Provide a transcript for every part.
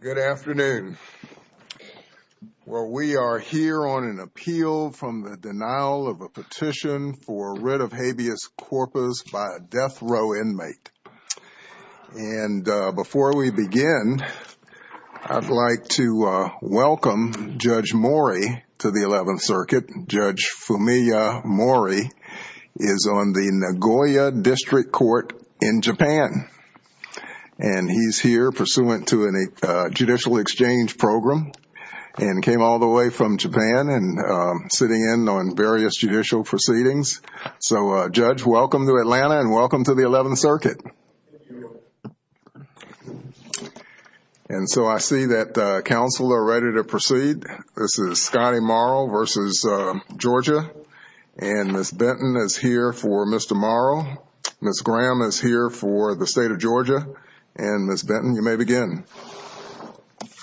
Good afternoon. Well, we are here on an appeal from the denial of a petition for rid of habeas corpus by a death row inmate. And before we begin, I'd like to welcome Judge Mori to the 11th Circuit. Judge Fumiya Mori is on the Nagoya District Court in Japan. And he's here pursuant to a judicial exchange program and came all the way from Japan and sitting in on various judicial proceedings. So, Judge, welcome to Atlanta and welcome to the 11th Circuit. And so I see that the counsel are ready to proceed. This is Scotty Morrow v. Georgia. And Ms. Benton is here for Mr. Morrow. Ms. Graham is here for the State of Georgia. And Ms. Benton, you may begin.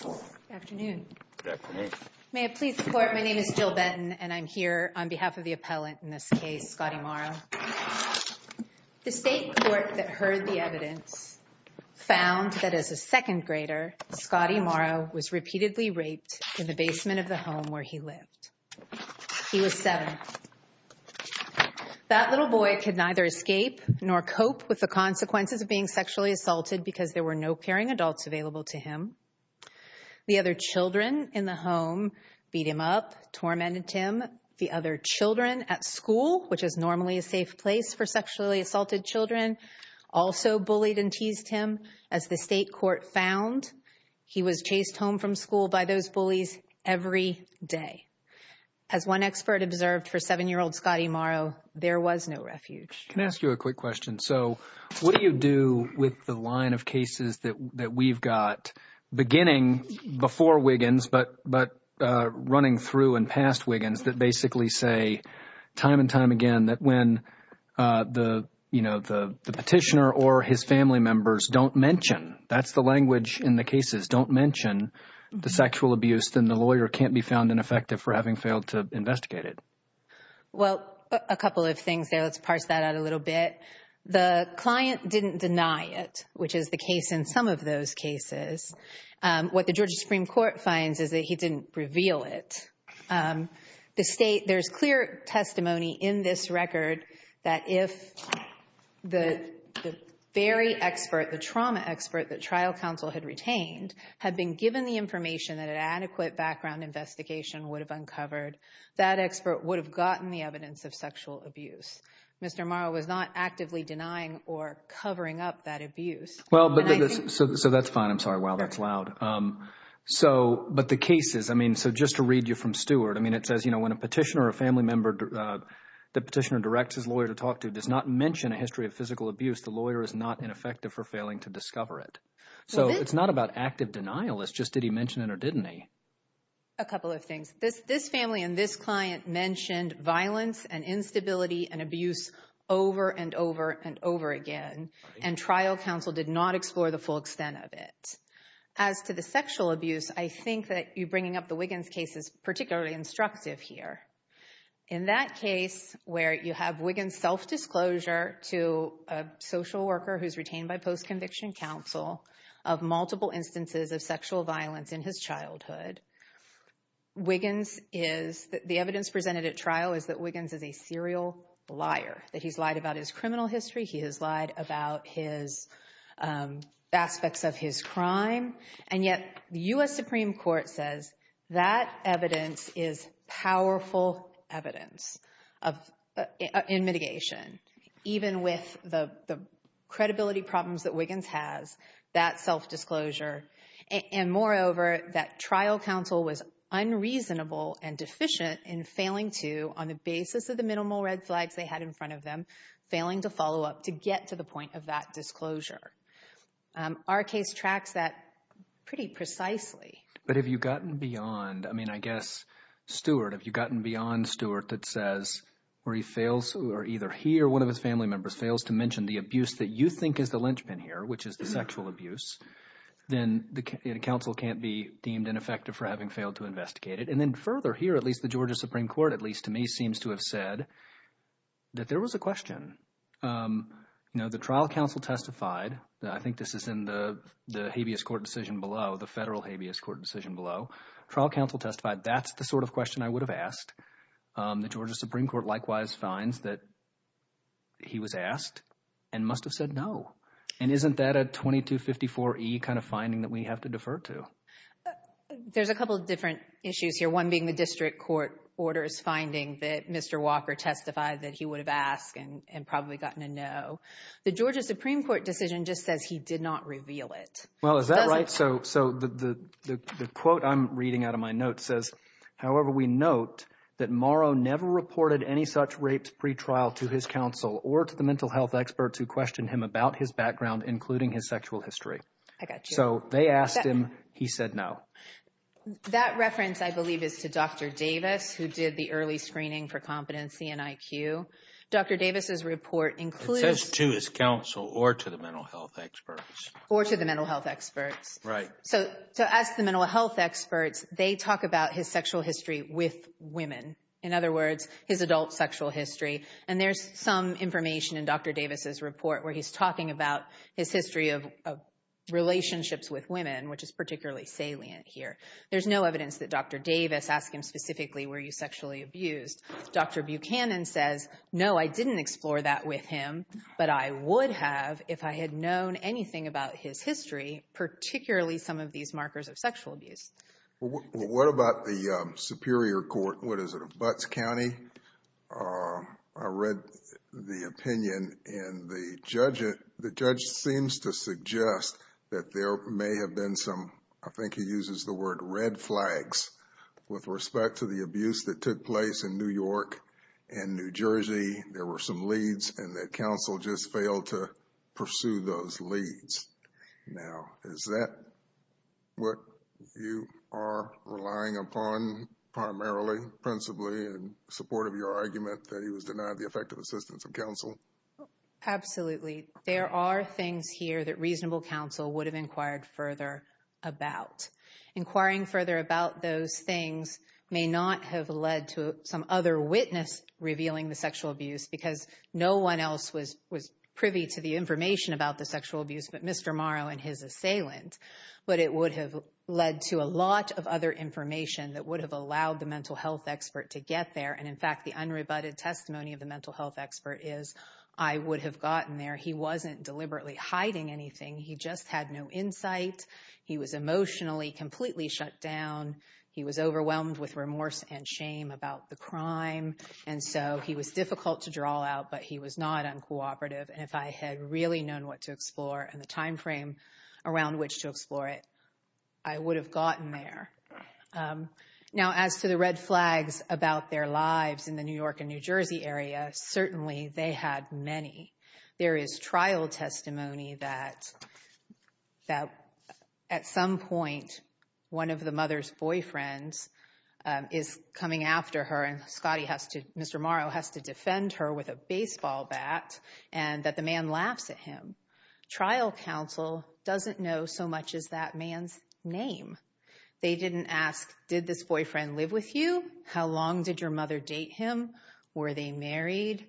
Good afternoon. May I please report? My name is Jill Benton, and I'm here on behalf of the appellant in this case, Scotty Morrow. The state court that heard the evidence found that as a second grader, Scotty Morrow was repeatedly raped in the basement of the home where he lived. He was seven. That little boy could neither escape nor cope with the consequences of being sexually assaulted because there were no caring adults available to him. The other children in the home beat him up, tormented him. The other children at school, which is normally a safe place for sexually assaulted children, also bullied and teased him. As the state court found, he was chased home from school by those bullies every day. As one expert observed for seven-year-old Scotty Morrow, there was no refuge. Can I ask you a quick question? So what do you do with the line of cases that we've got beginning before Wiggins but running through and past Wiggins that basically say time and time again that when the petitioner or his family members don't mention, that's the language in the cases, don't mention the sexual abuse, then the lawyer can't be found ineffective for having failed to investigate it? Well, a couple of things there. Let's parse that out a little bit. The client didn't deny it, which is the case in some of those cases. What the Georgia Supreme Court finds is that he didn't reveal it. There's clear testimony in this record that if the very expert, the trauma expert that trial counsel had retained had been given the information that an adequate background investigation would have uncovered, that expert would have gotten the evidence of sexual abuse. Mr. Morrow was not actively denying or covering up that abuse. Well, so that's fine. I'm sorry. Wow, that's loud. So, but the cases, I mean, so just to read you from Stewart, I mean, it says, you know, when a petitioner or a family member, the petitioner directs his lawyer to talk to, does not mention a history of physical abuse, the lawyer is not ineffective for failing to discover it. So it's not about active denial. It's just did he mention it or didn't he? A couple of things. This family and this client mentioned violence and instability and abuse over and over and over again, and trial counsel did not explore the full extent of it. As to the sexual abuse, I think that you bringing up the Wiggins case is particularly instructive here. In that case where you have Wiggins self-disclosure to a social worker who's retained by post-conviction counsel of multiple instances of sexual violence in his childhood, Wiggins is, the evidence presented at trial is that Wiggins is a serial liar, that he's lied about his criminal history, he has lied about his aspects of his crime. And yet the U.S. Supreme Court says that evidence is powerful evidence in mitigation, even with the credibility problems that Wiggins has, that self-disclosure, and moreover, that trial counsel was unreasonable and deficient in failing to, on the basis of the minimal red flags they had in front of them, failing to follow up to get to the point of that disclosure. Our case tracks that pretty precisely. But have you gotten beyond, I mean, I guess, Stewart, have you gotten beyond Stewart that says, or he fails, or either he or one of his family members fails to mention the abuse that you think is the linchpin here, which is the sexual abuse, then the counsel can't be deemed ineffective for having failed to investigate it. And then further here, at least the Georgia Supreme Court, at least to me, seems to have said that there was a question. You know, the trial counsel testified, I think this is in the habeas court decision below, the federal habeas court decision below. Trial counsel testified, that's the sort of question I would have asked. The Georgia Supreme Court likewise finds that he was asked and must have said no. And isn't that a 2254E kind of finding that we have to defer to? There's a couple of different issues here, one being the district court orders finding that Mr. Walker testified that he would have asked and probably gotten a no. The Georgia Supreme Court decision just says he did not reveal it. Well, is that right? So the quote I'm reading out of my note says, however, we note that Morrow never reported any such rape pretrial to his counsel or to the mental health experts who questioned him about his background, including his sexual history. I got you. So they asked him, he said no. That reference, I believe, is to Dr. Davis, who did the early screening for competency and IQ. Dr. Davis's report includes... It says to his counsel or to the mental health experts. Or to the mental health experts. Right. So to ask the mental health experts, they talk about his sexual history with women. In other words, his adult sexual history. And there's some information in Dr. Davis's report where he's talking about his history of relationships with women, which is particularly salient here. There's no evidence that Dr. Davis asked him specifically, were you sexually abused? Dr. Buchanan says, no, I didn't explore that with him, but I would have if I had known anything about his history, particularly some of these markers of sexual abuse. What about the Superior Court, what is it, of Butts County? I read the opinion, and the judge seems to suggest that there may have been some, I think he uses the word red flags, with respect to the abuse that took place in New York and New Jersey. There were some leads, and that counsel just failed to pursue those leads. Now, is that what you are relying upon primarily, principally, in support of your argument that he was denied the effective assistance of counsel? Absolutely. There are things here that reasonable counsel would have inquired further about. Inquiring further about those things may not have led to some other witness revealing the sexual abuse, because no one else was privy to the information about the sexual abuse but Mr. Morrow and his assailant. But it would have led to a lot of other information that would have allowed the mental health expert to get there. And in fact, the unrebutted testimony of the mental health expert is, I would have gotten there. He wasn't deliberately hiding anything. He just had no insight. He was emotionally completely shut down. He was overwhelmed with remorse and shame about the crime. And so he was difficult to draw out, but he was not uncooperative. And if I had really known what to explore and the timeframe around which to explore it, I would have gotten there. Now, as to the red flags about their lives in the New York and New Jersey area, certainly they had many. There is trial testimony that at some point one of the mother's boyfriends is coming after her and Mr. Morrow has to defend her with a baseball bat and that the man laughs at him. Trial counsel doesn't know so much as that man's name. They didn't ask, did this boyfriend live with you? How long did your mother date him? Were they married?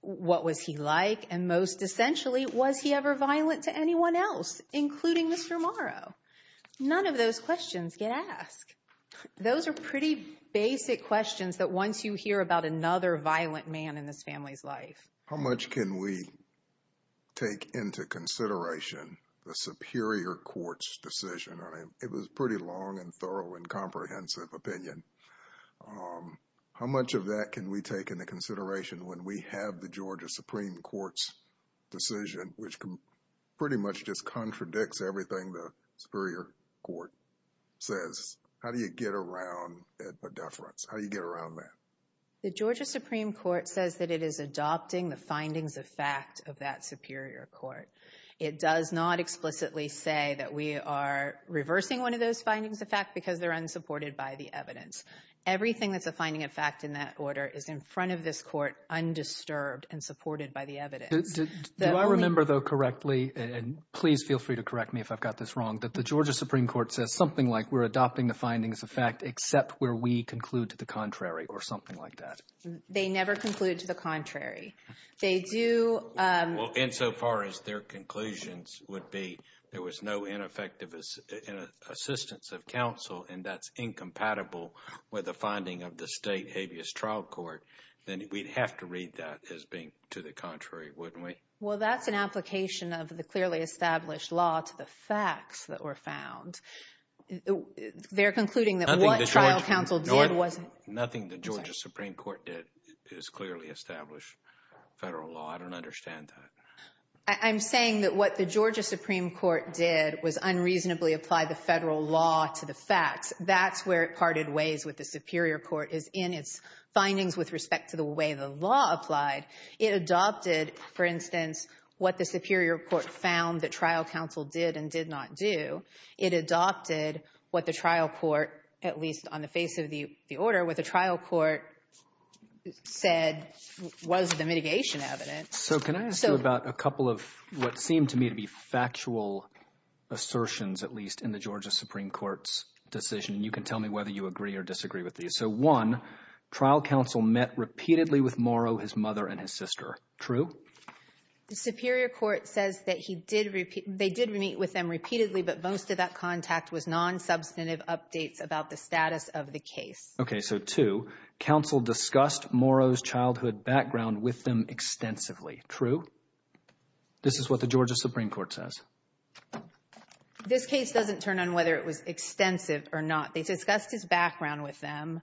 What was he like? And most essentially, was he ever violent to anyone else, including Mr. Morrow? None of those questions get asked. Those are pretty basic questions that once you hear about another violent man in this family's life. How much can we take into consideration the superior court's decision? It was a pretty long and thorough and comprehensive opinion. How much of that can we take into consideration when we have the Georgia Supreme Court's decision, which pretty much just contradicts everything the superior court says? How do you get around a deference? How do you get around that? The Georgia Supreme Court says that it is adopting the findings of fact of that superior court. It does not explicitly say that we are reversing one of those findings of fact because they're unsupported by the evidence. Everything that's a finding of fact in that order is in front of this court undisturbed and supported by the evidence. Do I remember though correctly, and please feel free to correct me if I've got this wrong, that the Georgia Supreme Court says something like we're adopting the findings of fact except where we conclude to the contrary or something like that? They never conclude to the contrary. Well, insofar as their conclusions would be there was no ineffective assistance of counsel and that's incompatible with the finding of the state habeas trial court, then we'd have to read that as being to the contrary, wouldn't we? Well, that's an application of the clearly established law to the facts that were found. They're concluding that what trial counsel did wasn't… Federal law, I don't understand that. I'm saying that what the Georgia Supreme Court did was unreasonably apply the federal law to the facts. That's where it parted ways with the superior court is in its findings with respect to the way the law applied. It adopted, for instance, what the superior court found that trial counsel did and did not do. It adopted what the trial court, at least on the face of the order, what the trial court said was the mitigation evidence. So can I ask you about a couple of what seemed to me to be factual assertions at least in the Georgia Supreme Court's decision? You can tell me whether you agree or disagree with these. So one, trial counsel met repeatedly with Morrow, his mother, and his sister. True? The superior court says that they did meet with them repeatedly, but most of that contact was non-substantive updates about the status of the case. Okay, so two, counsel discussed Morrow's childhood background with them extensively. True? This is what the Georgia Supreme Court says. This case doesn't turn on whether it was extensive or not. They discussed his background with them,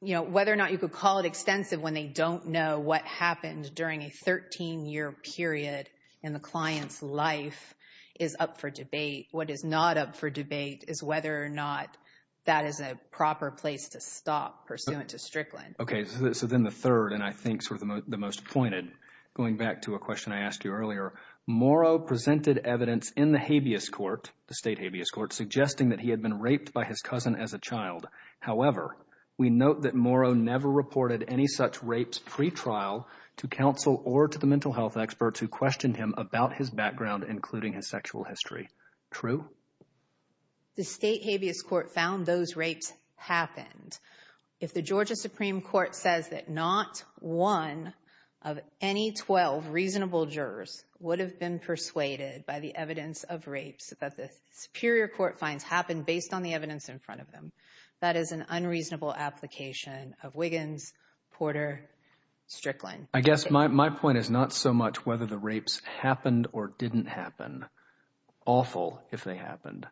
whether or not you could call it extensive when they don't know what happened during a 13-year period in the client's life is up for debate. What is not up for debate is whether or not that is a proper place to stop pursuant to Strickland. Okay, so then the third, and I think sort of the most pointed, going back to a question I asked you earlier, Morrow presented evidence in the habeas court, the state habeas court, suggesting that he had been raped by his cousin as a child. However, we note that Morrow never reported any such rapes pretrial to counsel or to the mental health experts who questioned him about his background, including his sexual history. True? The state habeas court found those rapes happened. If the Georgia Supreme Court says that not one of any 12 reasonable jurors would have been persuaded by the evidence of rapes that the superior court finds happened based on the evidence in front of them, that is an unreasonable application of Wiggins, Porter, Strickland. I guess my point is not so much whether the rapes happened or didn't happen, awful if they happened,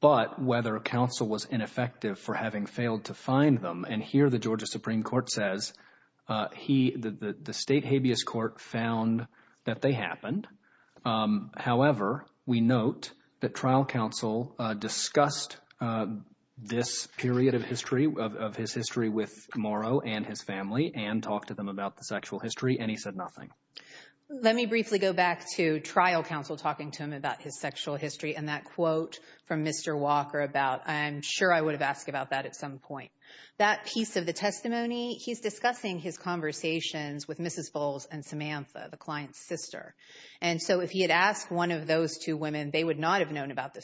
but whether counsel was ineffective for having failed to find them. And here the Georgia Supreme Court says the state habeas court found that they happened. However, we note that trial counsel discussed this period of history, of his history with Morrow and his family and talked to them about the sexual history, and he said nothing. Let me briefly go back to trial counsel talking to him about his sexual history and that quote from Mr. Walker about, I'm sure I would have asked about that at some point. That piece of the testimony, he's discussing his conversations with Mrs. Bowles and Samantha, the client's sister. And so if he had asked one of those two women, they would not have known about the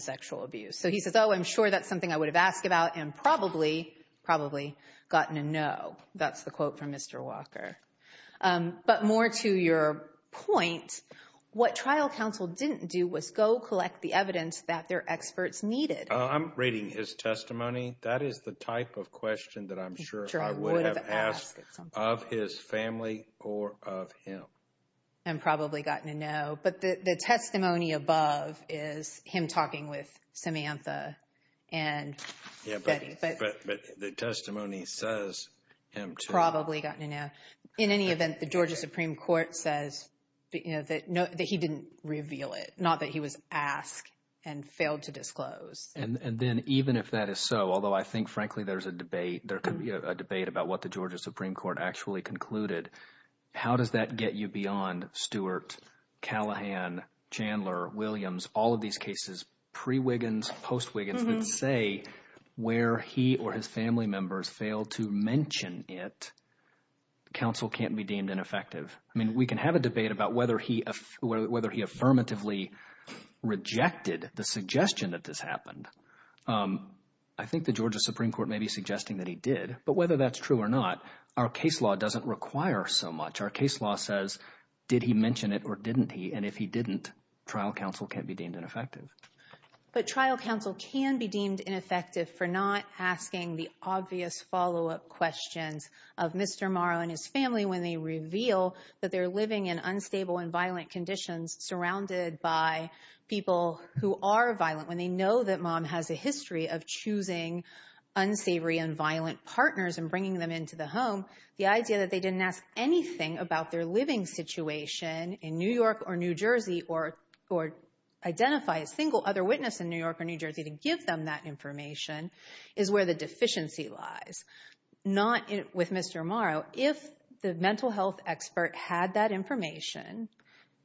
sexual abuse. So he says, oh, I'm sure that's something I would have asked about and probably, probably gotten a no. That's the quote from Mr. Walker. But more to your point, what trial counsel didn't do was go collect the evidence that their experts needed. I'm reading his testimony. That is the type of question that I'm sure I would have asked of his family or of him. And probably gotten a no. But the testimony above is him talking with Samantha and the testimony says him to probably gotten a no. In any event, the Georgia Supreme Court says that he didn't reveal it, not that he was asked and failed to disclose. And then even if that is so, although I think, frankly, there's a debate. There could be a debate about what the Georgia Supreme Court actually concluded. How does that get you beyond Stewart, Callahan, Chandler, Williams, all of these cases, pre Wiggins, post Wiggins, that say where he or his family members failed to mention it, counsel can't be deemed ineffective. I mean, we can have a debate about whether he whether he affirmatively rejected the suggestion that this happened. I think the Georgia Supreme Court may be suggesting that he did. But whether that's true or not, our case law doesn't require so much. Our case law says, did he mention it or didn't he? And if he didn't, trial counsel can't be deemed ineffective. But trial counsel can be deemed ineffective for not asking the obvious follow up questions of Mr. Morrow and his family when they reveal that they're living in unstable and violent conditions surrounded by people who are violent. When they know that mom has a history of choosing unsavory and violent partners and bringing them into the home. The idea that they didn't ask anything about their living situation in New York or New Jersey or or identify a single other witness in New York or New Jersey to give them that information is where the deficiency lies. Not with Mr. Morrow. If the mental health expert had that information,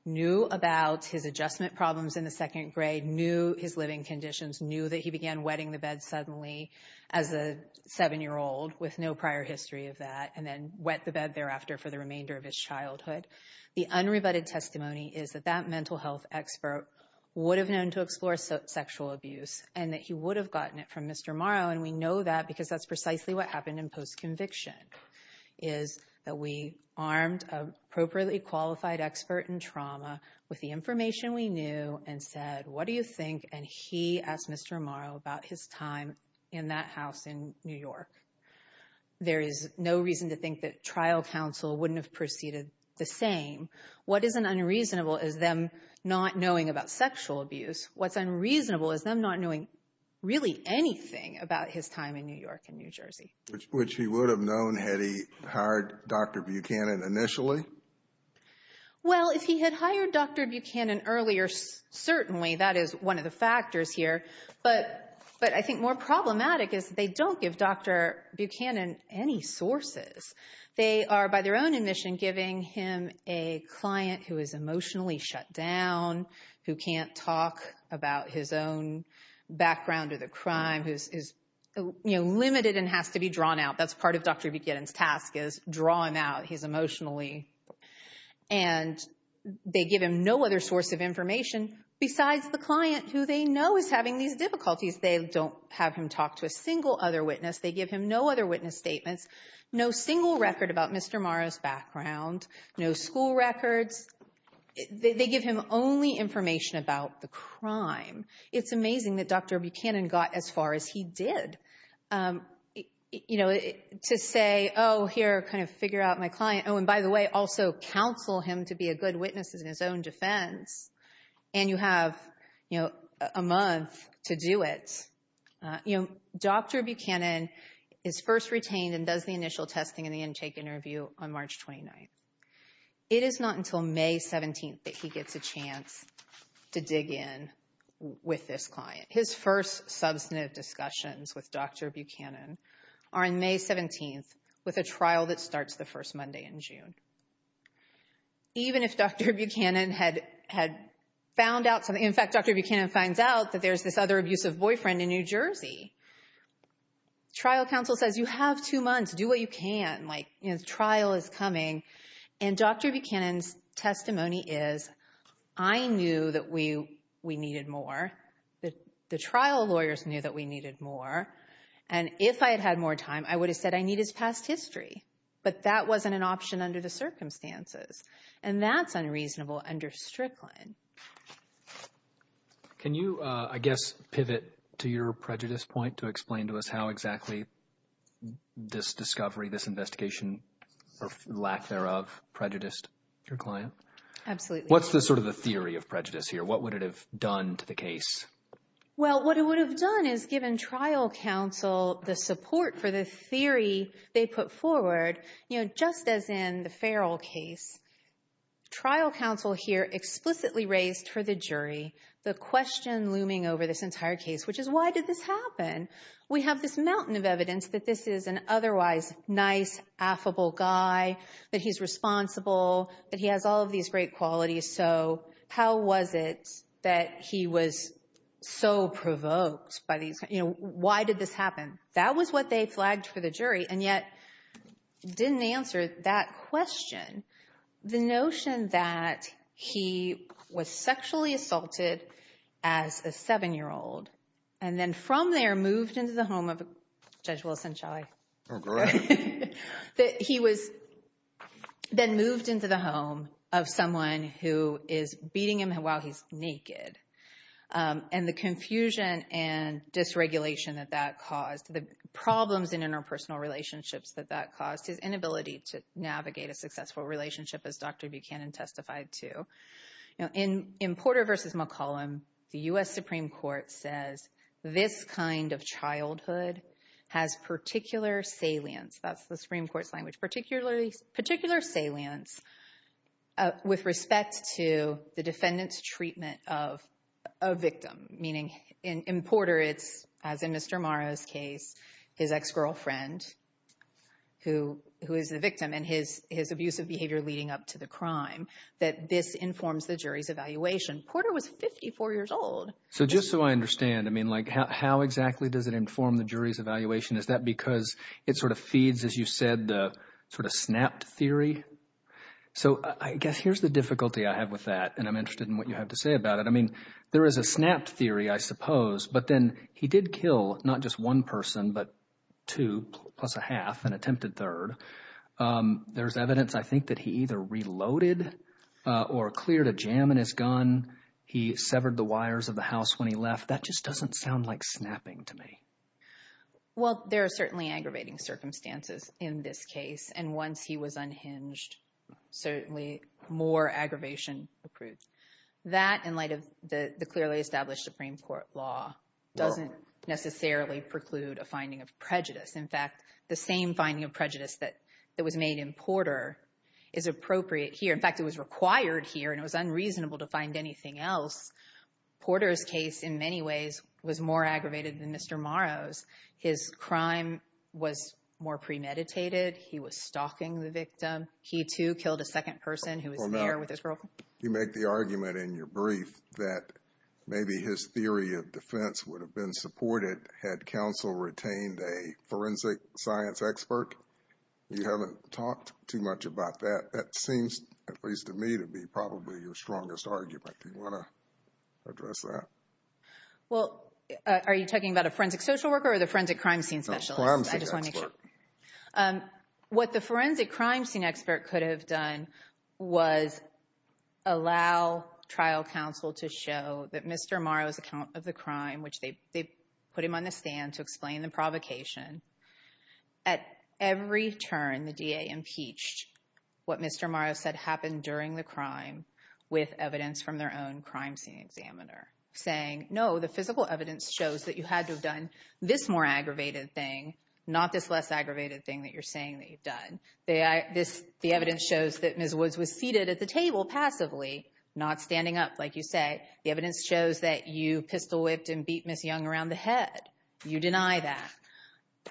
knew about his adjustment problems in the second grade, knew his living conditions, knew that he began wetting the bed suddenly as a seven year old with no prior history of that and then wet the bed thereafter for the remainder of his childhood. The unrebutted testimony is that that mental health expert would have known to explore sexual abuse and that he would have gotten it from Mr. Morrow. And we know that because that's precisely what happened in post conviction is that we armed appropriately qualified expert in trauma with the information we knew and said, what do you think? And he asked Mr. Morrow about his time in that house in New York. There is no reason to think that trial counsel wouldn't have proceeded the same. What is an unreasonable is them not knowing about sexual abuse. What's unreasonable is them not knowing really anything about his time in New York and New Jersey, which he would have known had he hired Dr. Buchanan initially. Well, if he had hired Dr. Buchanan earlier, certainly that is one of the factors here. But but I think more problematic is they don't give Dr. Buchanan any sources. They are, by their own admission, giving him a client who is emotionally shut down, who can't talk about his own background or the crime is limited and has to be drawn out. That's part of Dr. Buchanan's task is drawing out his emotionally. And they give him no other source of information besides the client who they know is having these difficulties. They don't have him talk to a single other witness. They give him no other witness statements, no single record about Mr. Morris background, no school records. They give him only information about the crime. It's amazing that Dr. Buchanan got as far as he did, you know, to say, oh, here, kind of figure out my client. Oh, and by the way, also counsel him to be a good witness in his own defense. And you have, you know, a month to do it. You know, Dr. Buchanan is first retained and does the initial testing and the intake interview on March 29th. It is not until May 17th that he gets a chance to dig in with this client. His first substantive discussions with Dr. Buchanan are on May 17th with a trial that starts the first Monday in June. Even if Dr. Buchanan had had found out something, in fact, Dr. Buchanan finds out that there's this other abusive boyfriend in New Jersey. Trial counsel says you have two months. Do what you can. Like, you know, the trial is coming. And Dr. Buchanan's testimony is I knew that we we needed more. The trial lawyers knew that we needed more. And if I had had more time, I would have said I need his past history. But that wasn't an option under the circumstances. And that's unreasonable under Strickland. Can you, I guess, pivot to your prejudice point to explain to us how exactly this discovery, this investigation, or lack thereof, prejudiced your client? Absolutely. What's the sort of the theory of prejudice here? What would it have done to the case? Well, what it would have done is given trial counsel the support for the theory they put forward, you know, just as in the Farrell case. Trial counsel here explicitly raised for the jury the question looming over this entire case, which is why did this happen? We have this mountain of evidence that this is an otherwise nice, affable guy, that he's responsible, that he has all of these great qualities. So how was it that he was so provoked by these? You know, why did this happen? That was what they flagged for the jury and yet didn't answer that question. The notion that he was sexually assaulted as a seven-year-old and then from there moved into the home of Judge Wilson, shall I? Okay. That he was then moved into the home of someone who is beating him while he's naked. And the confusion and dysregulation that that caused, the problems in interpersonal relationships that that caused, his inability to navigate a successful relationship as Dr. Buchanan testified to. In Porter v. McCollum, the U.S. Supreme Court says this kind of childhood has particular salience. That's the Supreme Court's language, particular salience with respect to the defendant's treatment of a victim. Meaning in Porter it's, as in Mr. Morrow's case, his ex-girlfriend who is the victim and his abusive behavior leading up to the crime, that this informs the jury's evaluation. Porter was 54 years old. So just so I understand, I mean like how exactly does it inform the jury's evaluation? Is that because it sort of feeds, as you said, the sort of snapped theory? So I guess here's the difficulty I have with that and I'm interested in what you have to say about it. I mean there is a snapped theory, I suppose, but then he did kill not just one person but two plus a half, an attempted third. There's evidence, I think, that he either reloaded or cleared a jam in his gun. He severed the wires of the house when he left. That just doesn't sound like snapping to me. Well, there are certainly aggravating circumstances in this case. And once he was unhinged, certainly more aggravation accrues. That, in light of the clearly established Supreme Court law, doesn't necessarily preclude a finding of prejudice. In fact, the same finding of prejudice that was made in Porter is appropriate here. In fact, it was required here and it was unreasonable to find anything else. Porter's case, in many ways, was more aggravated than Mr. Morrow's. His crime was more premeditated. He was stalking the victim. He, too, killed a second person who was there with his girlfriend. You make the argument in your brief that maybe his theory of defense would have been supported had counsel retained a forensic science expert. You haven't talked too much about that. That seems, at least to me, to be probably your strongest argument. Do you want to address that? Well, are you talking about a forensic social worker or the forensic crime scene specialist? Forensic expert. What the forensic crime scene expert could have done was allow trial counsel to show that Mr. Morrow's account of the crime, which they put him on the stand to explain the provocation, at every turn the DA impeached what Mr. Morrow said happened during the crime with evidence from their own crime scene examiner, saying, no, the physical evidence shows that you had to have done this more aggravated thing, not this less aggravated thing that you're saying that you've done. The evidence shows that Ms. Woods was seated at the table passively, not standing up, like you say. The evidence shows that you pistol whipped and beat Ms. Young around the head. You deny that.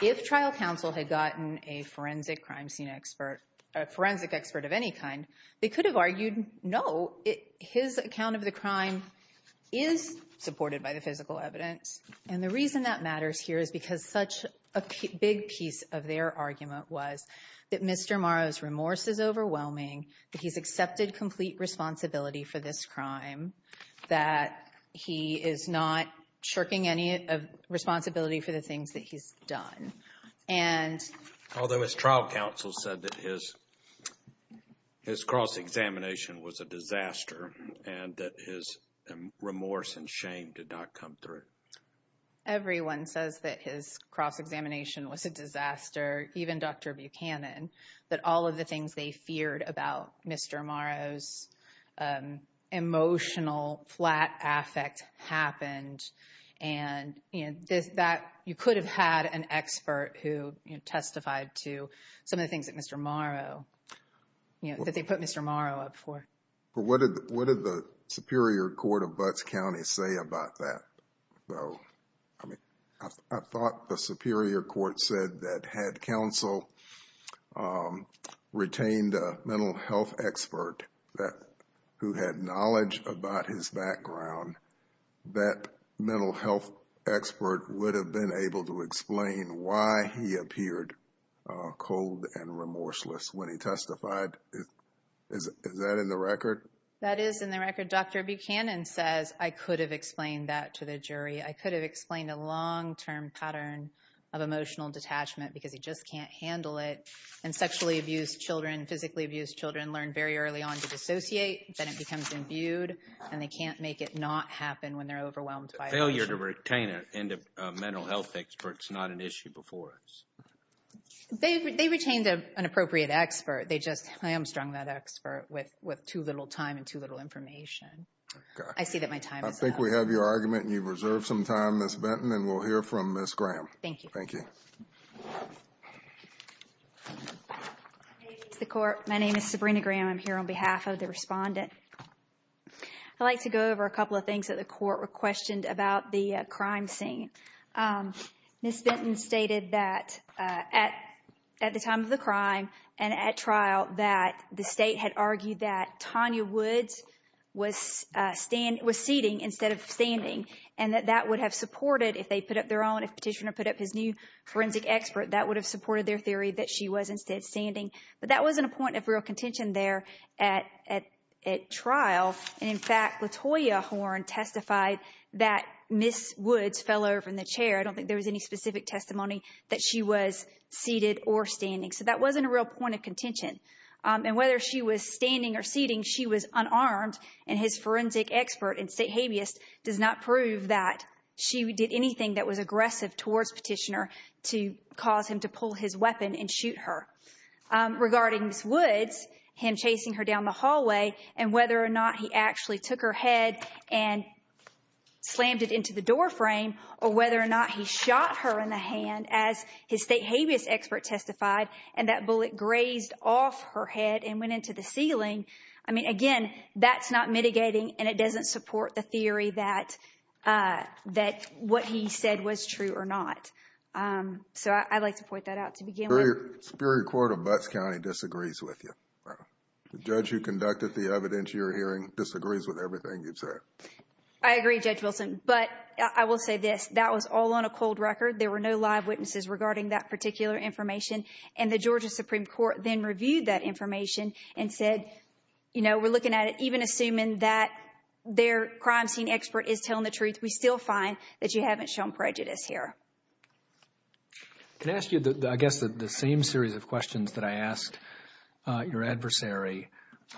If trial counsel had gotten a forensic crime scene expert, a forensic expert of any kind, they could have argued, no, his account of the crime is supported by the physical evidence. And the reason that matters here is because such a big piece of their argument was that Mr. Morrow's remorse is overwhelming, that he's accepted complete responsibility for this crime, that he is not shirking any responsibility for the things that he's done. Although his trial counsel said that his cross-examination was a disaster and that his remorse and shame did not come through. Everyone says that his cross-examination was a disaster, even Dr. Buchanan, that all of the things they feared about Mr. Morrow's emotional flat affect happened. And that you could have had an expert who testified to some of the things that Mr. Morrow, that they put Mr. Morrow up for. What did the Superior Court of Butts County say about that? I thought the Superior Court said that had counsel retained a mental health expert who had knowledge about his background, that mental health expert would have been able to explain why he appeared cold and remorseless when he testified. Is that in the record? That is in the record. Dr. Buchanan says, I could have explained that to the jury. I could have explained a long-term pattern of emotional detachment because he just can't handle it. And sexually abused children, physically abused children learn very early on to dissociate, then it becomes imbued, and they can't make it not happen when they're overwhelmed by emotion. Failure to retain a mental health expert is not an issue before us. They retained an appropriate expert. They just hamstrung that expert with too little time and too little information. I see that my time is up. I think we have your argument, and you've reserved some time, Ms. Benton. And we'll hear from Ms. Graham. Thank you. Thank you. My name is Sabrina Graham. I'm here on behalf of the respondent. I'd like to go over a couple of things that the court questioned about the crime scene. Ms. Benton stated that at the time of the crime and at trial, that the state had argued that Tanya Woods was seating instead of standing, and that that would have supported, if they put up their own, if Petitioner put up his new forensic expert, that would have supported their theory that she was instead standing. But that wasn't a point of real contention there at trial. And, in fact, Latoya Horn testified that Ms. Woods fell over in the chair. I don't think there was any specific testimony that she was seated or standing. So that wasn't a real point of contention. And whether she was standing or seating, she was unarmed, and his forensic expert and state habeas does not prove that she did anything that was aggressive towards Petitioner to cause him to pull his weapon and shoot her. Regarding Ms. Woods, him chasing her down the hallway, and whether or not he actually took her head and slammed it into the door frame, or whether or not he shot her in the hand, as his state habeas expert testified, and that bullet grazed off her head and went into the ceiling, I mean, again, that's not mitigating, and it doesn't support the theory that what he said was true or not. So I'd like to point that out to begin with. The Superior Court of Butts County disagrees with you. The judge who conducted the evidence you're hearing disagrees with everything you've said. I agree, Judge Wilson, but I will say this. That was all on a cold record. There were no live witnesses regarding that particular information, and the Georgia Supreme Court then reviewed that information and said, you know, we're looking at it even assuming that their crime scene expert is telling the truth. We still find that you haven't shown prejudice here. Can I ask you, I guess, the same series of questions that I asked your adversary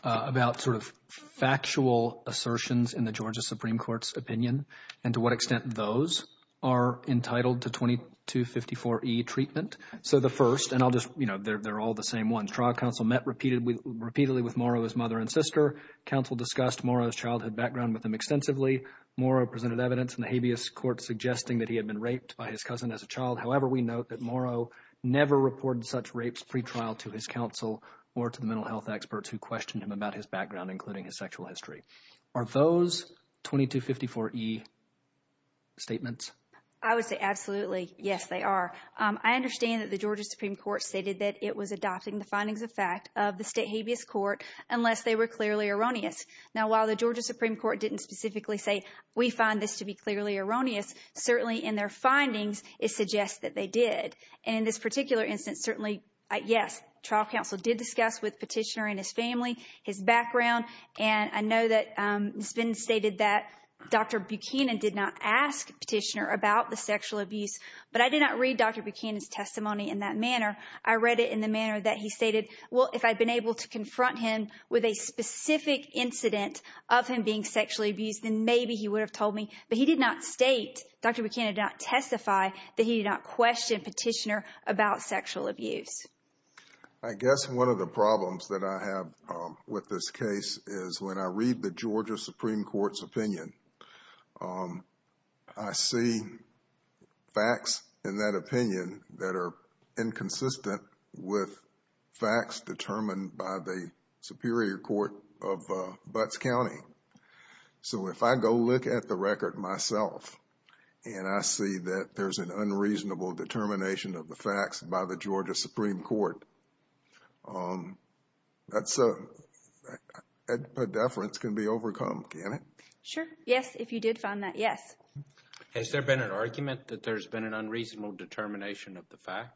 about sort of factual assertions in the Georgia Supreme Court's opinion and to what extent those are entitled to 2254E treatment? So the first, and I'll just, you know, they're all the same ones. Trial counsel met repeatedly with Morrow's mother and sister. Counsel discussed Morrow's childhood background with him extensively. Morrow presented evidence in the habeas court suggesting that he had been raped by his cousin as a child. However, we note that Morrow never reported such rapes pretrial to his counsel or to the mental health experts who questioned him about his background, including his sexual history. Are those 2254E statements? I would say absolutely, yes, they are. I understand that the Georgia Supreme Court stated that it was adopting the findings of fact of the state habeas court unless they were clearly erroneous. Now, while the Georgia Supreme Court didn't specifically say we find this to be clearly erroneous, certainly in their findings it suggests that they did. And in this particular instance, certainly, yes, trial counsel did discuss with Petitioner and his family his background. And I know that it's been stated that Dr. Buchanan did not ask Petitioner about the sexual abuse, but I did not read Dr. Buchanan's testimony in that manner. I read it in the manner that he stated, well, if I'd been able to confront him with a specific incident of him being sexually abused, then maybe he would have told me. But he did not state, Dr. Buchanan did not testify that he did not question Petitioner about sexual abuse. I guess one of the problems that I have with this case is when I read the Georgia Supreme Court's opinion, I see facts in that opinion that are inconsistent with facts determined by the Superior Court of Butts County. So if I go look at the record myself and I see that there's an unreasonable determination of the facts by the Georgia Supreme Court, that's a, a deference can be overcome, can't it? Sure, yes, if you did find that, yes. Has there been an argument that there's been an unreasonable determination of the facts?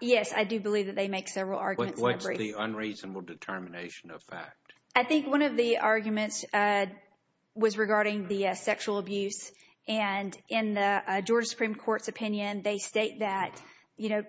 Yes, I do believe that they make several arguments. What's the unreasonable determination of fact? I think one of the arguments was regarding the sexual abuse. And in the Georgia Supreme Court's opinion, they state that, you know,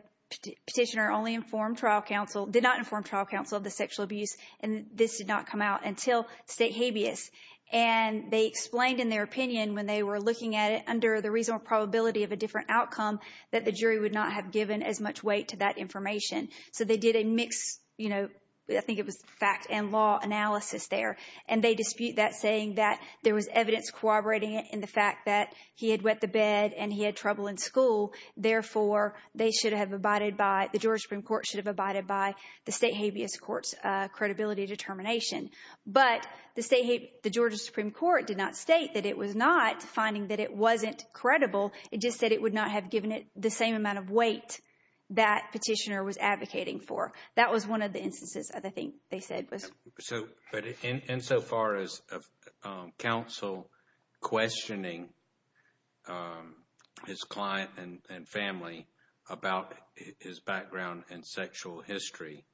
Petitioner only informed trial counsel, did not inform trial counsel of the sexual abuse, and this did not come out until State habeas. And they explained in their opinion when they were looking at it under the reasonable probability of a different outcome that the jury would not have given as much weight to that information. So they did a mixed, you know, I think it was fact and law analysis there. And they dispute that saying that there was evidence corroborating it in the fact that he had wet the bed and he had trouble in school. Therefore, they should have abided by, the Georgia Supreme Court should have abided by the State habeas court's credibility determination. But the Georgia Supreme Court did not state that it was not finding that it wasn't credible. It just said it would not have given it the same amount of weight that Petitioner was advocating for. That was one of the instances, I think, they said was. But insofar as counsel questioning his client and family about his background and sexual history,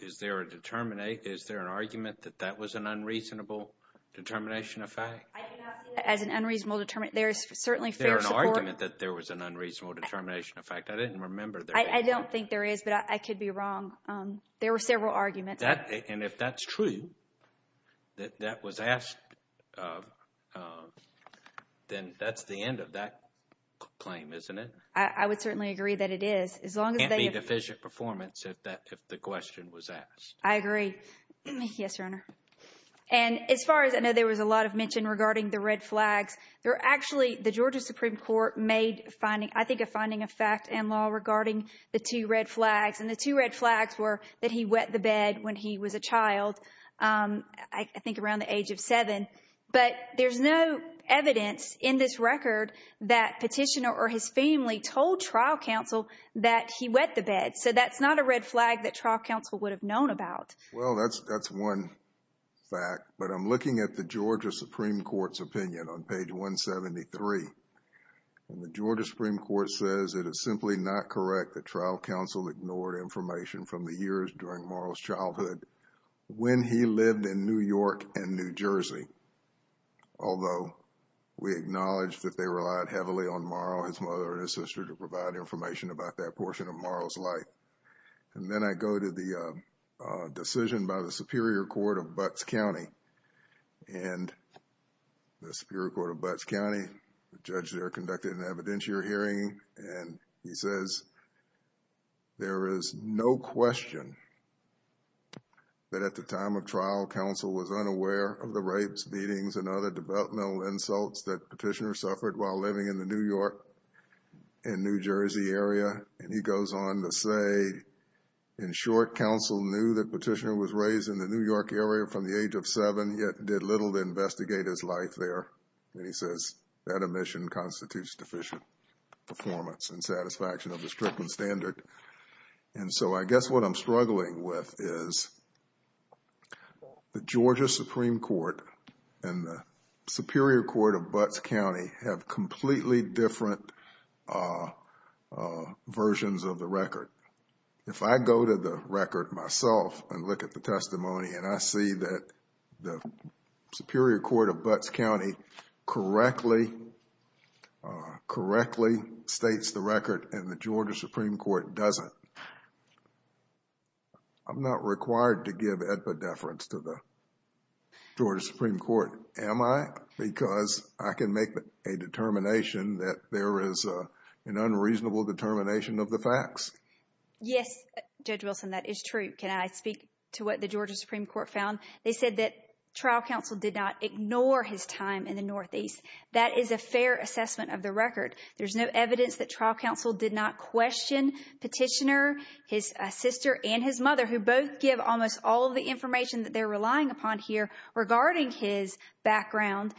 is there an argument that that was an unreasonable determination of fact? I do not see that as an unreasonable determination. There is certainly fair support. Is there an argument that there was an unreasonable determination of fact? I didn't remember there being one. I don't think there is, but I could be wrong. There were several arguments. And if that's true, that that was asked, then that's the end of that claim, isn't it? I would certainly agree that it is. As long as they have. If the question was asked, I agree. Yes, Your Honor. And as far as I know, there was a lot of mention regarding the red flags there. Actually, the Georgia Supreme Court made finding, I think, a finding of fact and law regarding the two red flags. And the two red flags were that he wet the bed when he was a child, I think around the age of seven. But there's no evidence in this record that petitioner or his family told trial counsel that he wet the bed. So that's not a red flag that trial counsel would have known about. Well, that's one fact. But I'm looking at the Georgia Supreme Court's opinion on page 173. And the Georgia Supreme Court says it is simply not correct that trial counsel ignored information from the years during Marlowe's childhood when he lived in New York and New Jersey. Although we acknowledge that they relied heavily on Marlowe, his mother, and his sister to provide information about that portion of Marlowe's life. And then I go to the decision by the Superior Court of Butts County. And the Superior Court of Butts County, the judge there conducted an evidentiary hearing. And he says, there is no question that at the time of trial, counsel was unaware of the rapes, beatings, and other developmental insults that petitioner suffered while living in the New York and New Jersey area. And he goes on to say, in short, counsel knew that petitioner was raised in the New York area from the age of seven, yet did little to investigate his life there. And he says, that admission constitutes deficient performance and satisfaction of the strictest standard. And so I guess what I'm struggling with is the Georgia Supreme Court and the Superior Court of Butts County have completely different versions of the record. If I go to the record myself and look at the testimony and I see that the Superior Court of Butts County correctly states the record and the Georgia Supreme Court doesn't, I'm not required to give epidepherence to the Georgia Supreme Court, am I? Because I can make a determination that there is an unreasonable determination of the facts. Yes, Judge Wilson, that is true. Can I speak to what the Georgia Supreme Court found? They said that trial counsel did not ignore his time in the Northeast. That is a fair assessment of the record. There's no evidence that trial counsel did not question petitioner, his sister, and his mother, who both give almost all the information that they're relying upon here regarding his background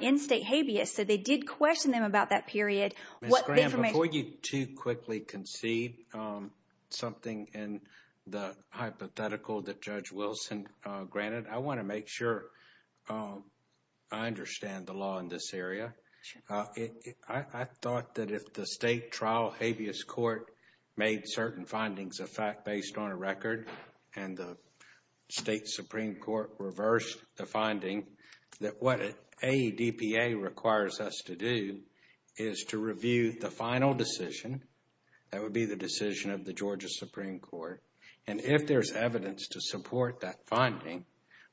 in state habeas. So they did question them about that period. Ms. Graham, before you too quickly concede something in the hypothetical that Judge Wilson granted, I want to make sure I understand the law in this area. I thought that if the state trial habeas court made certain findings of fact based on a record and the state Supreme Court reversed the finding, that what AEDPA requires us to do is to review the final decision. That would be the decision of the Georgia Supreme Court. And if there's evidence to support that finding,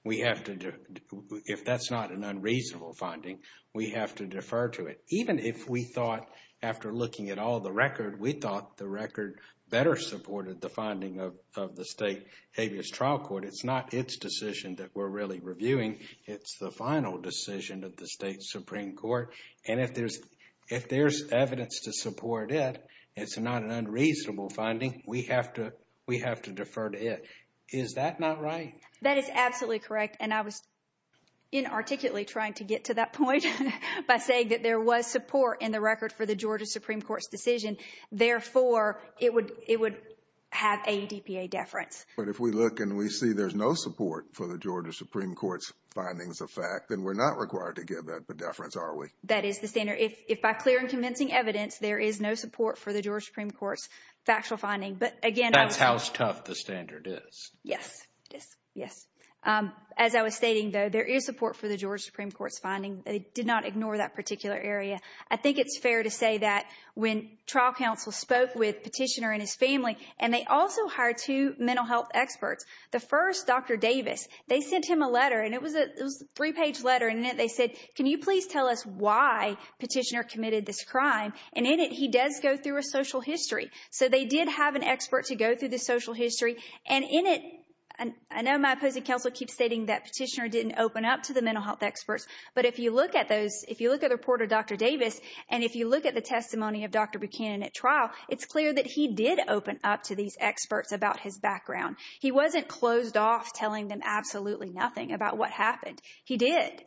if that's not an unreasonable finding, we have to defer to it. Even if we thought, after looking at all the record, we thought the record better supported the finding of the state habeas trial court, it's not its decision that we're really reviewing. It's the final decision of the state Supreme Court. And if there's evidence to support it, it's not an unreasonable finding, we have to defer to it. Is that not right? That is absolutely correct. And I was inarticulately trying to get to that point by saying that there was support in the record for the Georgia Supreme Court's decision. Therefore, it would have AEDPA deference. But if we look and we see there's no support for the Georgia Supreme Court's findings of fact, then we're not required to give that deference, are we? That is the standard. If by clear and convincing evidence, there is no support for the Georgia Supreme Court's factual finding. But again, that's how tough the standard is. Yes. Yes. Yes. As I was stating, though, there is support for the Georgia Supreme Court's finding. They did not ignore that particular area. I think it's fair to say that when trial counsel spoke with Petitioner and his family, and they also hired two mental health experts, the first, Dr. Davis, they sent him a letter. And it was a three-page letter. And in it, they said, can you please tell us why Petitioner committed this crime? And in it, he does go through a social history. So they did have an expert to go through the social history. And in it, I know my opposing counsel keeps stating that Petitioner didn't open up to the mental health experts. But if you look at those, if you look at the report of Dr. Davis, and if you look at the testimony of Dr. Buchanan at trial, it's clear that he did open up to these experts about his background. He wasn't closed off telling them absolutely nothing about what happened. He did.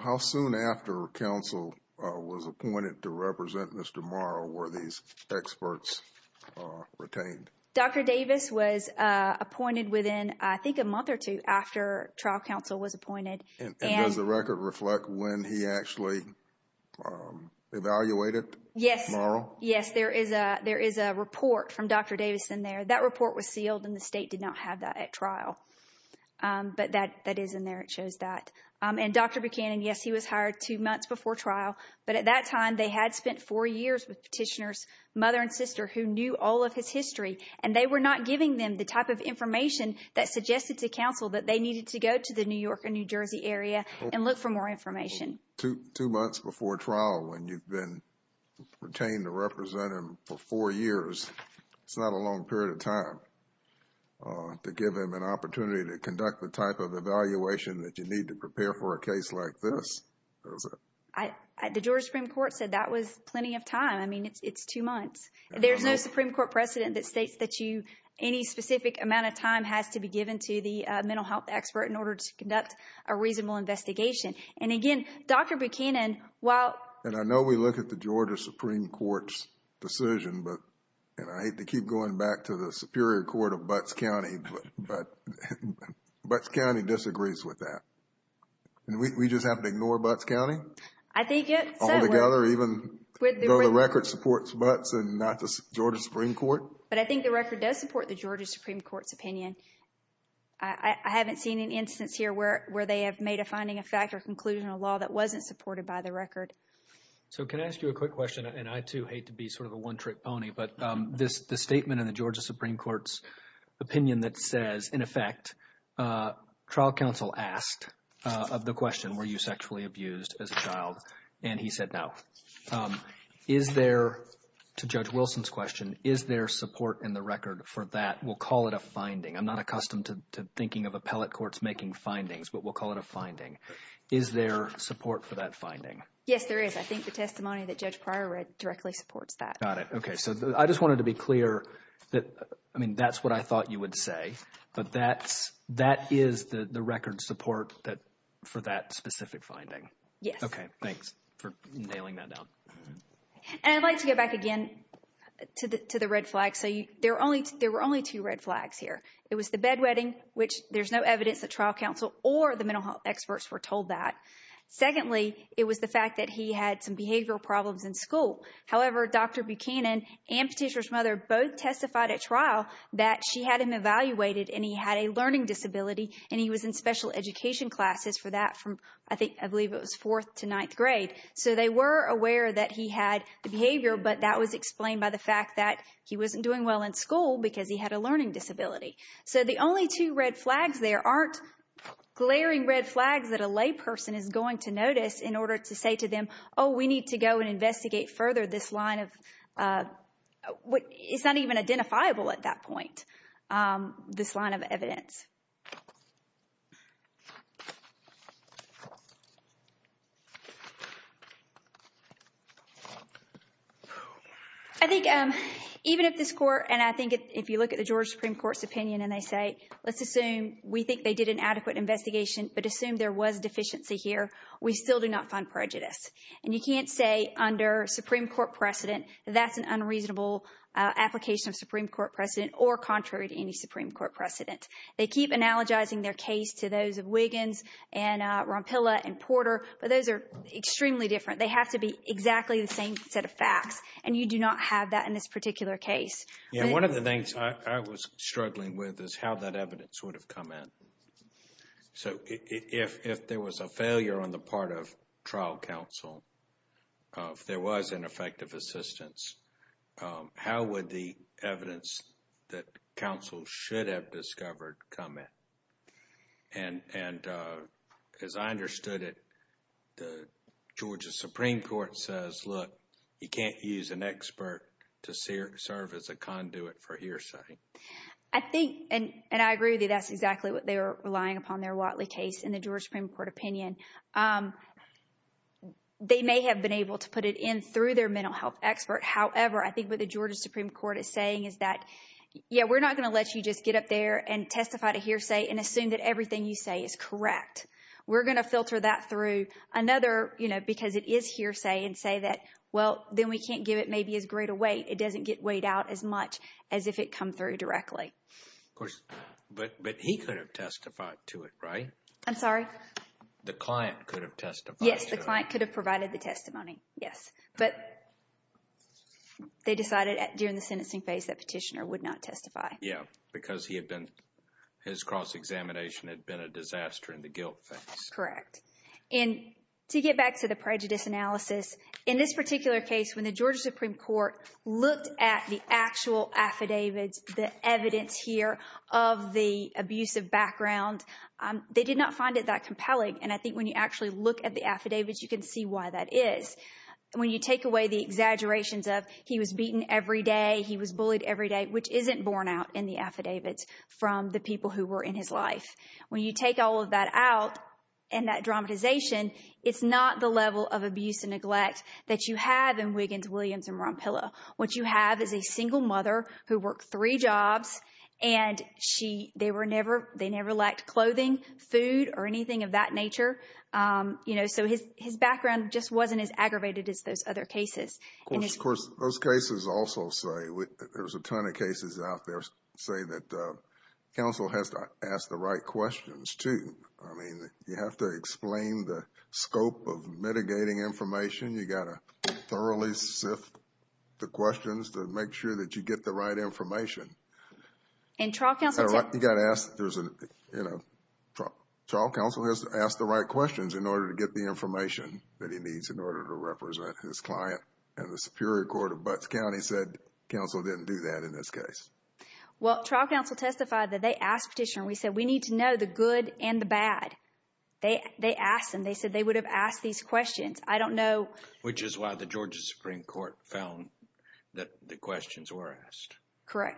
How soon after counsel was appointed to represent Mr. Morrow were these experts retained? Dr. Davis was appointed within, I think, a month or two after trial counsel was appointed. And does the record reflect when he actually evaluated Morrow? Yes. Yes, there is a report from Dr. Davis in there. That report was sealed, and the state did not have that at trial. But that is in there. It shows that. And Dr. Buchanan, yes, he was hired two months before trial. But at that time, they had spent four years with Petitioner's mother and sister who knew all of his history. And they were not giving them the type of information that suggested to counsel that they needed to go to the New York or New Jersey area and look for more information. Two months before trial, when you've been retained a representative for four years, it's not a long period of time to give him an opportunity to conduct the type of evaluation that you need to prepare for a case like this. The Georgia Supreme Court said that was plenty of time. I mean, it's two months. There's no Supreme Court precedent that states that you, any specific amount of time has to be given to the mental health expert in order to conduct a reasonable investigation. And again, Dr. Buchanan, while... And I know we look at the Georgia Supreme Court's decision, and I hate to keep going back to the Superior Court of Butts County, but Butts County disagrees with that. And we just have to ignore Butts County? Altogether, even though the record supports Butts and not the Georgia Supreme Court? But I think the record does support the Georgia Supreme Court's opinion. I haven't seen an instance here where they have made a finding of fact or conclusion of law that wasn't supported by the record. So can I ask you a quick question? And I, too, hate to be sort of a one-trick pony, but this statement in the Georgia Supreme Court's opinion that says, in effect, trial counsel asked of the question, were you sexually abused as a child? And he said no. Is there, to Judge Wilson's question, is there support in the record for that? We'll call it a finding. I'm not accustomed to thinking of appellate courts making findings, but we'll call it a finding. Is there support for that finding? Yes, there is. I think the testimony that Judge Pryor read directly supports that. Got it. Okay. So I just wanted to be clear that, I mean, that's what I thought you would say, but that is the record support for that specific finding. Yes. Okay. Thanks for nailing that down. And I'd like to go back again to the red flag. So there were only two red flags here. It was the bedwetting, which there's no evidence that trial counsel or the mental health experts were told that. Secondly, it was the fact that he had some behavioral problems in school. However, Dr. Buchanan and Patricia's mother both testified at trial that she had him evaluated and he had a learning disability, and he was in special education classes for that from, I think, I believe it was fourth to ninth grade. So they were aware that he had the behavior, but that was explained by the fact that he wasn't doing well in school because he had a learning disability. So the only two red flags there aren't glaring red flags that a lay person is going to notice in order to say to them, oh, we need to go and investigate further this line of what is not even identifiable at that point, this line of evidence. I think even if this court and I think if you look at the Georgia Supreme Court's opinion and they say, let's assume we think they did an adequate investigation, but assume there was deficiency here, we still do not find prejudice. And you can't say under Supreme Court precedent that that's an unreasonable application of Supreme Court precedent or contrary to any Supreme Court precedent. They keep analogizing their case to those of Wiggins and Rompilla and Porter, but those are extremely different. They have to be exactly the same set of facts, and you do not have that in this particular case. Yeah, one of the things I was struggling with is how that evidence would have come in. So if there was a failure on the part of trial counsel, if there was ineffective assistance, how would the evidence that counsel should have discovered come in? And as I understood it, the Georgia Supreme Court says, look, you can't use an expert to serve as a conduit for hearsay. I think, and I agree with you, that's exactly what they were relying upon their Watley case in the Georgia Supreme Court opinion. They may have been able to put it in through their mental health expert. However, I think what the Georgia Supreme Court is saying is that, yeah, we're not going to let you just get up there and testify to hearsay and assume that everything you say is correct. We're going to filter that through another, you know, because it is hearsay, and say that, well, then we can't give it maybe as great a weight. It doesn't get weighed out as much as if it come through directly. Of course, but he could have testified to it, right? I'm sorry? The client could have testified. Yes, the client could have provided the testimony, yes. But they decided during the sentencing phase that Petitioner would not testify. Yes, because his cross-examination had been a disaster in the guilt phase. Correct. And to get back to the prejudice analysis, in this particular case, when the Georgia Supreme Court looked at the actual affidavits, the evidence here of the abusive background, they did not find it that compelling. And I think when you actually look at the affidavits, you can see why that is. When you take away the exaggerations of he was beaten every day, he was bullied every day, which isn't borne out in the affidavits from the people who were in his life. When you take all of that out and that dramatization, it's not the level of abuse and neglect that you have in Wiggins, Williams, and Rompilla. What you have is a single mother who worked three jobs, and they never lacked clothing, food, or anything of that nature. So his background just wasn't as aggravated as those other cases. Of course, those cases also say, there's a ton of cases out there that say that counsel has to ask the right questions, too. I mean, you have to explain the scope of mitigating information. You've got to thoroughly sift the questions to make sure that you get the right information. And trial counsel... You've got to ask... Trial counsel has to ask the right questions in order to get the information that he needs in order to represent his client. And the Superior Court of Butts County said counsel didn't do that in this case. Well, trial counsel testified that they asked the petitioner. We said, we need to know the good and the bad. They asked them. They said they would have asked these questions. I don't know... Correct,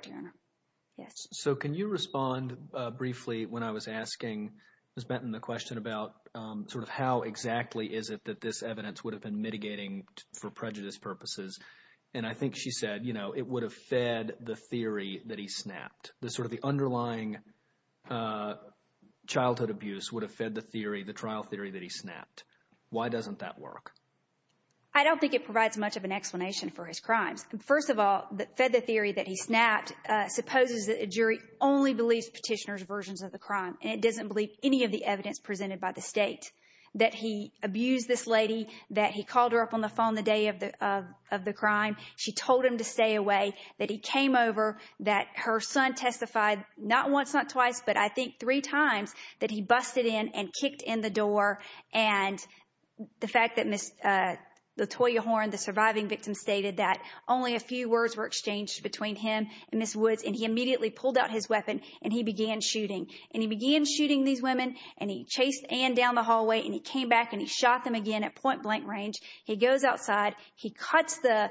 Your Honor. Yes. So can you respond briefly when I was asking Ms. Benton the question about sort of how exactly is it that this evidence would have been mitigating for prejudice purposes? And I think she said, you know, it would have fed the theory that he snapped. Sort of the underlying childhood abuse would have fed the theory, the trial theory that he snapped. Why doesn't that work? I don't think it provides much of an explanation for his crimes. First of all, fed the theory that he snapped supposes that a jury only believes petitioner's versions of the crime. And it doesn't believe any of the evidence presented by the state. That he abused this lady, that he called her up on the phone the day of the crime. She told him to stay away. That he came over. That her son testified not once, not twice, but I think three times that he busted in and kicked in the door. And the fact that Ms. Latoya Horn, the surviving victim, stated that only a few words were exchanged between him and Ms. Woods. And he immediately pulled out his weapon and he began shooting. And he began shooting these women and he chased Ann down the hallway and he came back and he shot them again at point blank range. He goes outside. He cuts the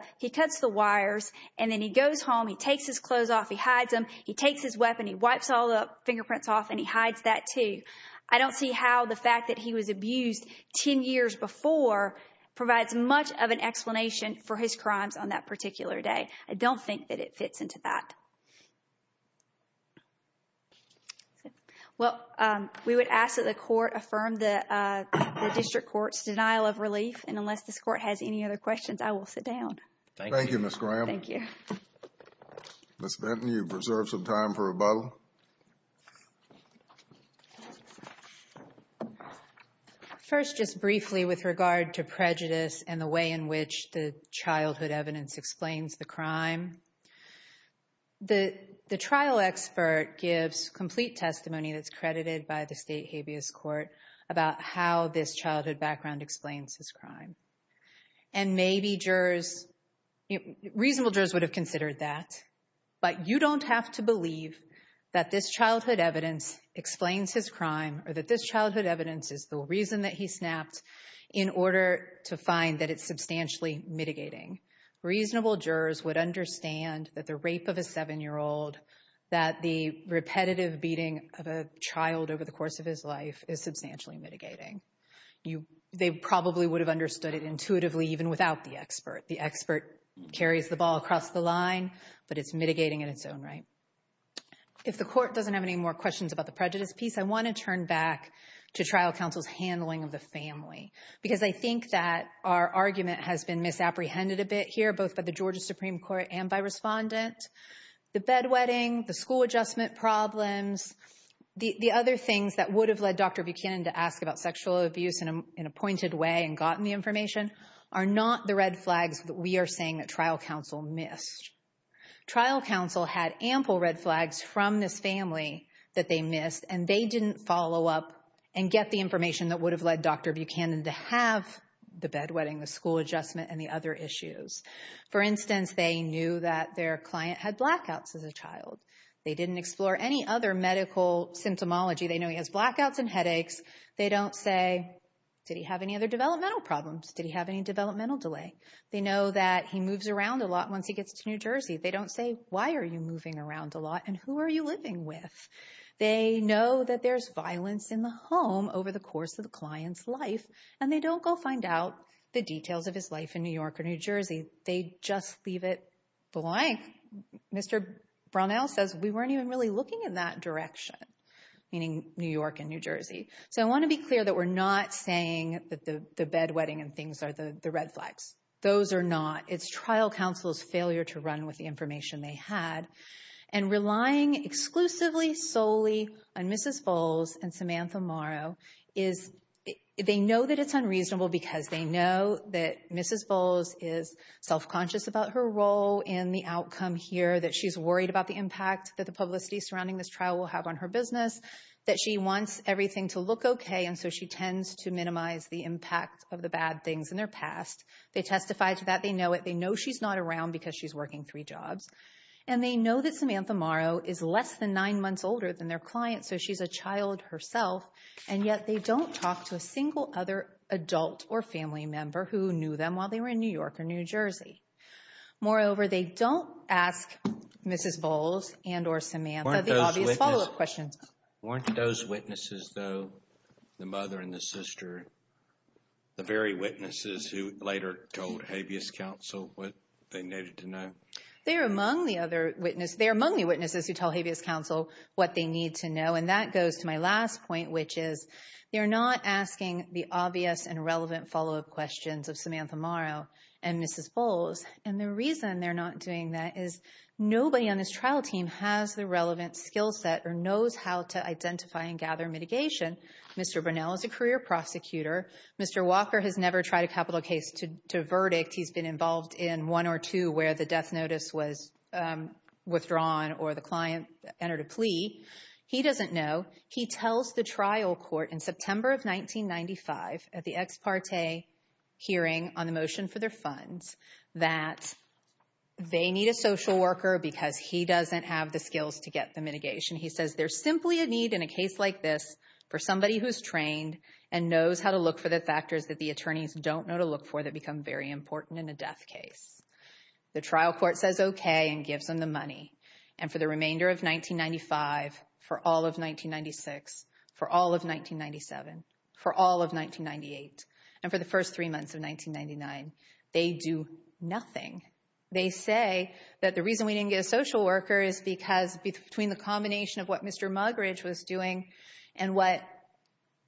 wires. And then he goes home. He takes his clothes off. He hides them. He takes his weapon. He wipes all the fingerprints off. And he hides that too. I don't see how the fact that he was abused ten years before provides much of an explanation for his crimes on that particular day. I don't think that it fits into that. Well, we would ask that the court affirm the district court's denial of relief. And unless this court has any other questions, I will sit down. Thank you, Ms. Graham. Thank you. Ms. Benton, you've reserved some time for rebuttal. First, just briefly with regard to prejudice and the way in which the childhood evidence explains the crime, the trial expert gives complete testimony that's credited by the state habeas court about how this childhood background explains his crime. And maybe jurors, reasonable jurors would have considered that. But you don't have to believe that this childhood evidence explains his crime or that this childhood evidence is the reason that he snapped in order to find that it's substantially mitigating. Reasonable jurors would understand that the rape of a seven-year-old, that the repetitive beating of a child over the course of his life is substantially mitigating. They probably would have understood it intuitively even without the expert. The expert carries the ball across the line, but it's mitigating in its own right. If the court doesn't have any more questions about the prejudice piece, I want to turn back to trial counsel's handling of the family, because I think that our argument has been misapprehended a bit here, both by the Georgia Supreme Court and by respondent. The bedwetting, the school adjustment problems, the other things that would have led Dr. Buchanan to ask about sexual abuse in a pointed way and gotten the information are not the red flags that we are saying that trial counsel missed. Trial counsel had ample red flags from this family that they missed, and they didn't follow up and get the information that would have led Dr. Buchanan to have the bedwetting, the school adjustment, and the other issues. For instance, they knew that their client had blackouts as a child. They didn't explore any other medical symptomology. They know he has blackouts and headaches. They don't say, did he have any other developmental problems? Did he have any developmental delay? They know that he moves around a lot once he gets to New Jersey. They don't say, why are you moving around a lot, and who are you living with? They know that there's violence in the home over the course of the client's life, and they don't go find out the details of his life in New York or New Jersey. They just leave it blank. Mr. Brownell says, we weren't even really looking in that direction, meaning New York and New Jersey. So I want to be clear that we're not saying that the bedwetting and things are the red flags. Those are not. It's trial counsel's failure to run with the information they had. And relying exclusively solely on Mrs. Bowles and Samantha Morrow, they know that it's unreasonable because they know that Mrs. Bowles is self-conscious about her role and the outcome here, that she's worried about the impact that the publicity surrounding this trial will have on her business, that she wants everything to look okay, and so she tends to minimize the impact of the bad things in their past. They testify to that. They know it. They know she's not around because she's working three jobs. And they know that Samantha Morrow is less than nine months older than their client, so she's a child herself, and yet they don't talk to a single other adult or family member who knew them while they were in New York or New Jersey. Moreover, they don't ask Mrs. Bowles and or Samantha the obvious follow-up questions. Weren't those witnesses, though, the mother and the sister, the very witnesses who later told habeas counsel what they needed to know? They're among the other witnesses. They're among the witnesses who tell habeas counsel what they need to know, and that goes to my last point, which is they're not asking the obvious and relevant follow-up questions of Samantha Morrow and Mrs. Bowles, and the reason they're not doing that is nobody on this trial team has the relevant skill set or knows how to identify and gather mitigation. Mr. Burnell is a career prosecutor. Mr. Walker has never tried a capital case to verdict. He's been involved in one or two where the death notice was withdrawn or the client entered a plea. He doesn't know. He tells the trial court in September of 1995 at the ex parte hearing on the motion for their funds that they need a social worker because he doesn't have the skills to get the mitigation. He says there's simply a need in a case like this for somebody who is trained and knows how to look for the factors that the attorneys don't know to look for that become very important in a death case. The trial court says okay and gives them the money, and for the remainder of 1995, for all of 1996, for all of 1997, for all of 1998, and for the first three months of 1999, they do nothing. They say that the reason we didn't get a social worker is because between the combination of what Mr. Muggeridge was doing and what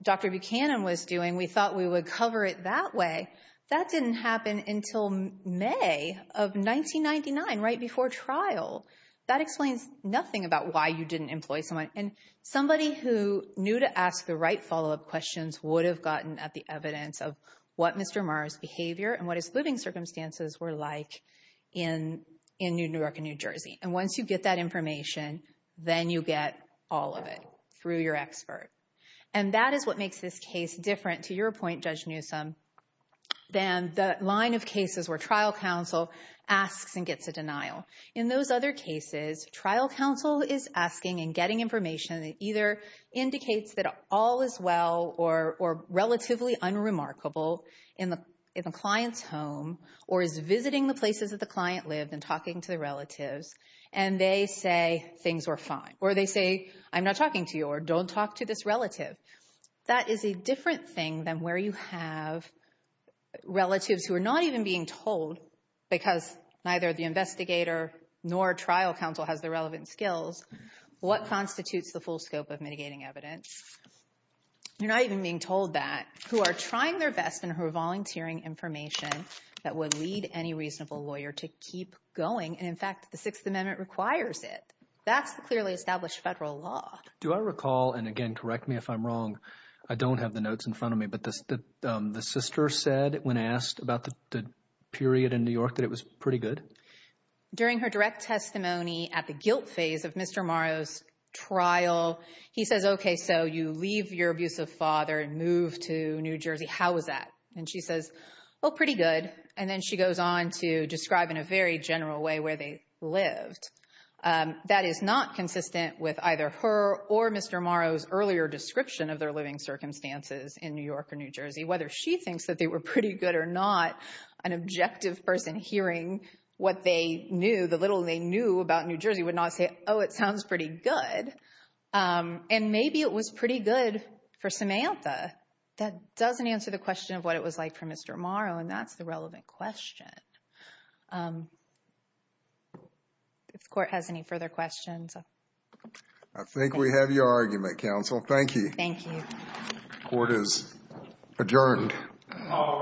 Dr. Buchanan was doing, we thought we would cover it that way. That didn't happen until May of 1999, right before trial. That explains nothing about why you didn't employ someone. And somebody who knew to ask the right follow-up questions would have gotten at the evidence of what Mr. Muggeridge's behavior and what his living circumstances were like in New York and New Jersey. And once you get that information, then you get all of it through your expert. And that is what makes this case different to your point, Judge Newsom, than the line of cases where trial counsel asks and gets a denial. In those other cases, trial counsel is asking and getting information that either indicates that all is well or relatively unremarkable in the client's home, or is visiting the places that the client lived and talking to the relatives, and they say things were fine. Or they say, I'm not talking to you, or don't talk to this relative. That is a different thing than where you have relatives who are not even being told, because neither the investigator nor trial counsel has the relevant skills, what constitutes the full scope of mitigating evidence. You're not even being told that, who are trying their best and who are volunteering information that would lead any reasonable lawyer to keep going. And in fact, the Sixth Amendment requires it. That's the clearly established federal law. Do I recall, and again, correct me if I'm wrong, I don't have the notes in front of me, but the sister said when asked about the period in New York that it was pretty good? During her direct testimony at the guilt phase of Mr. Morrow's trial, he says, okay, so you leave your abusive father and move to New Jersey. How was that? And she says, oh, pretty good. And then she goes on to describe in a very general way where they lived. That is not consistent with either her or Mr. Morrow's earlier description of their living circumstances in New York or New Jersey. Whether she thinks that they were pretty good or not, an objective person hearing what they knew, the little they knew about New Jersey would not say, oh, it sounds pretty good. And maybe it was pretty good for Samantha. That doesn't answer the question of what it was like for Mr. Morrow, and that's the relevant question. If the Court has any further questions. I think we have your argument, Counsel. Thank you. Thank you. The Court is adjourned. All rise.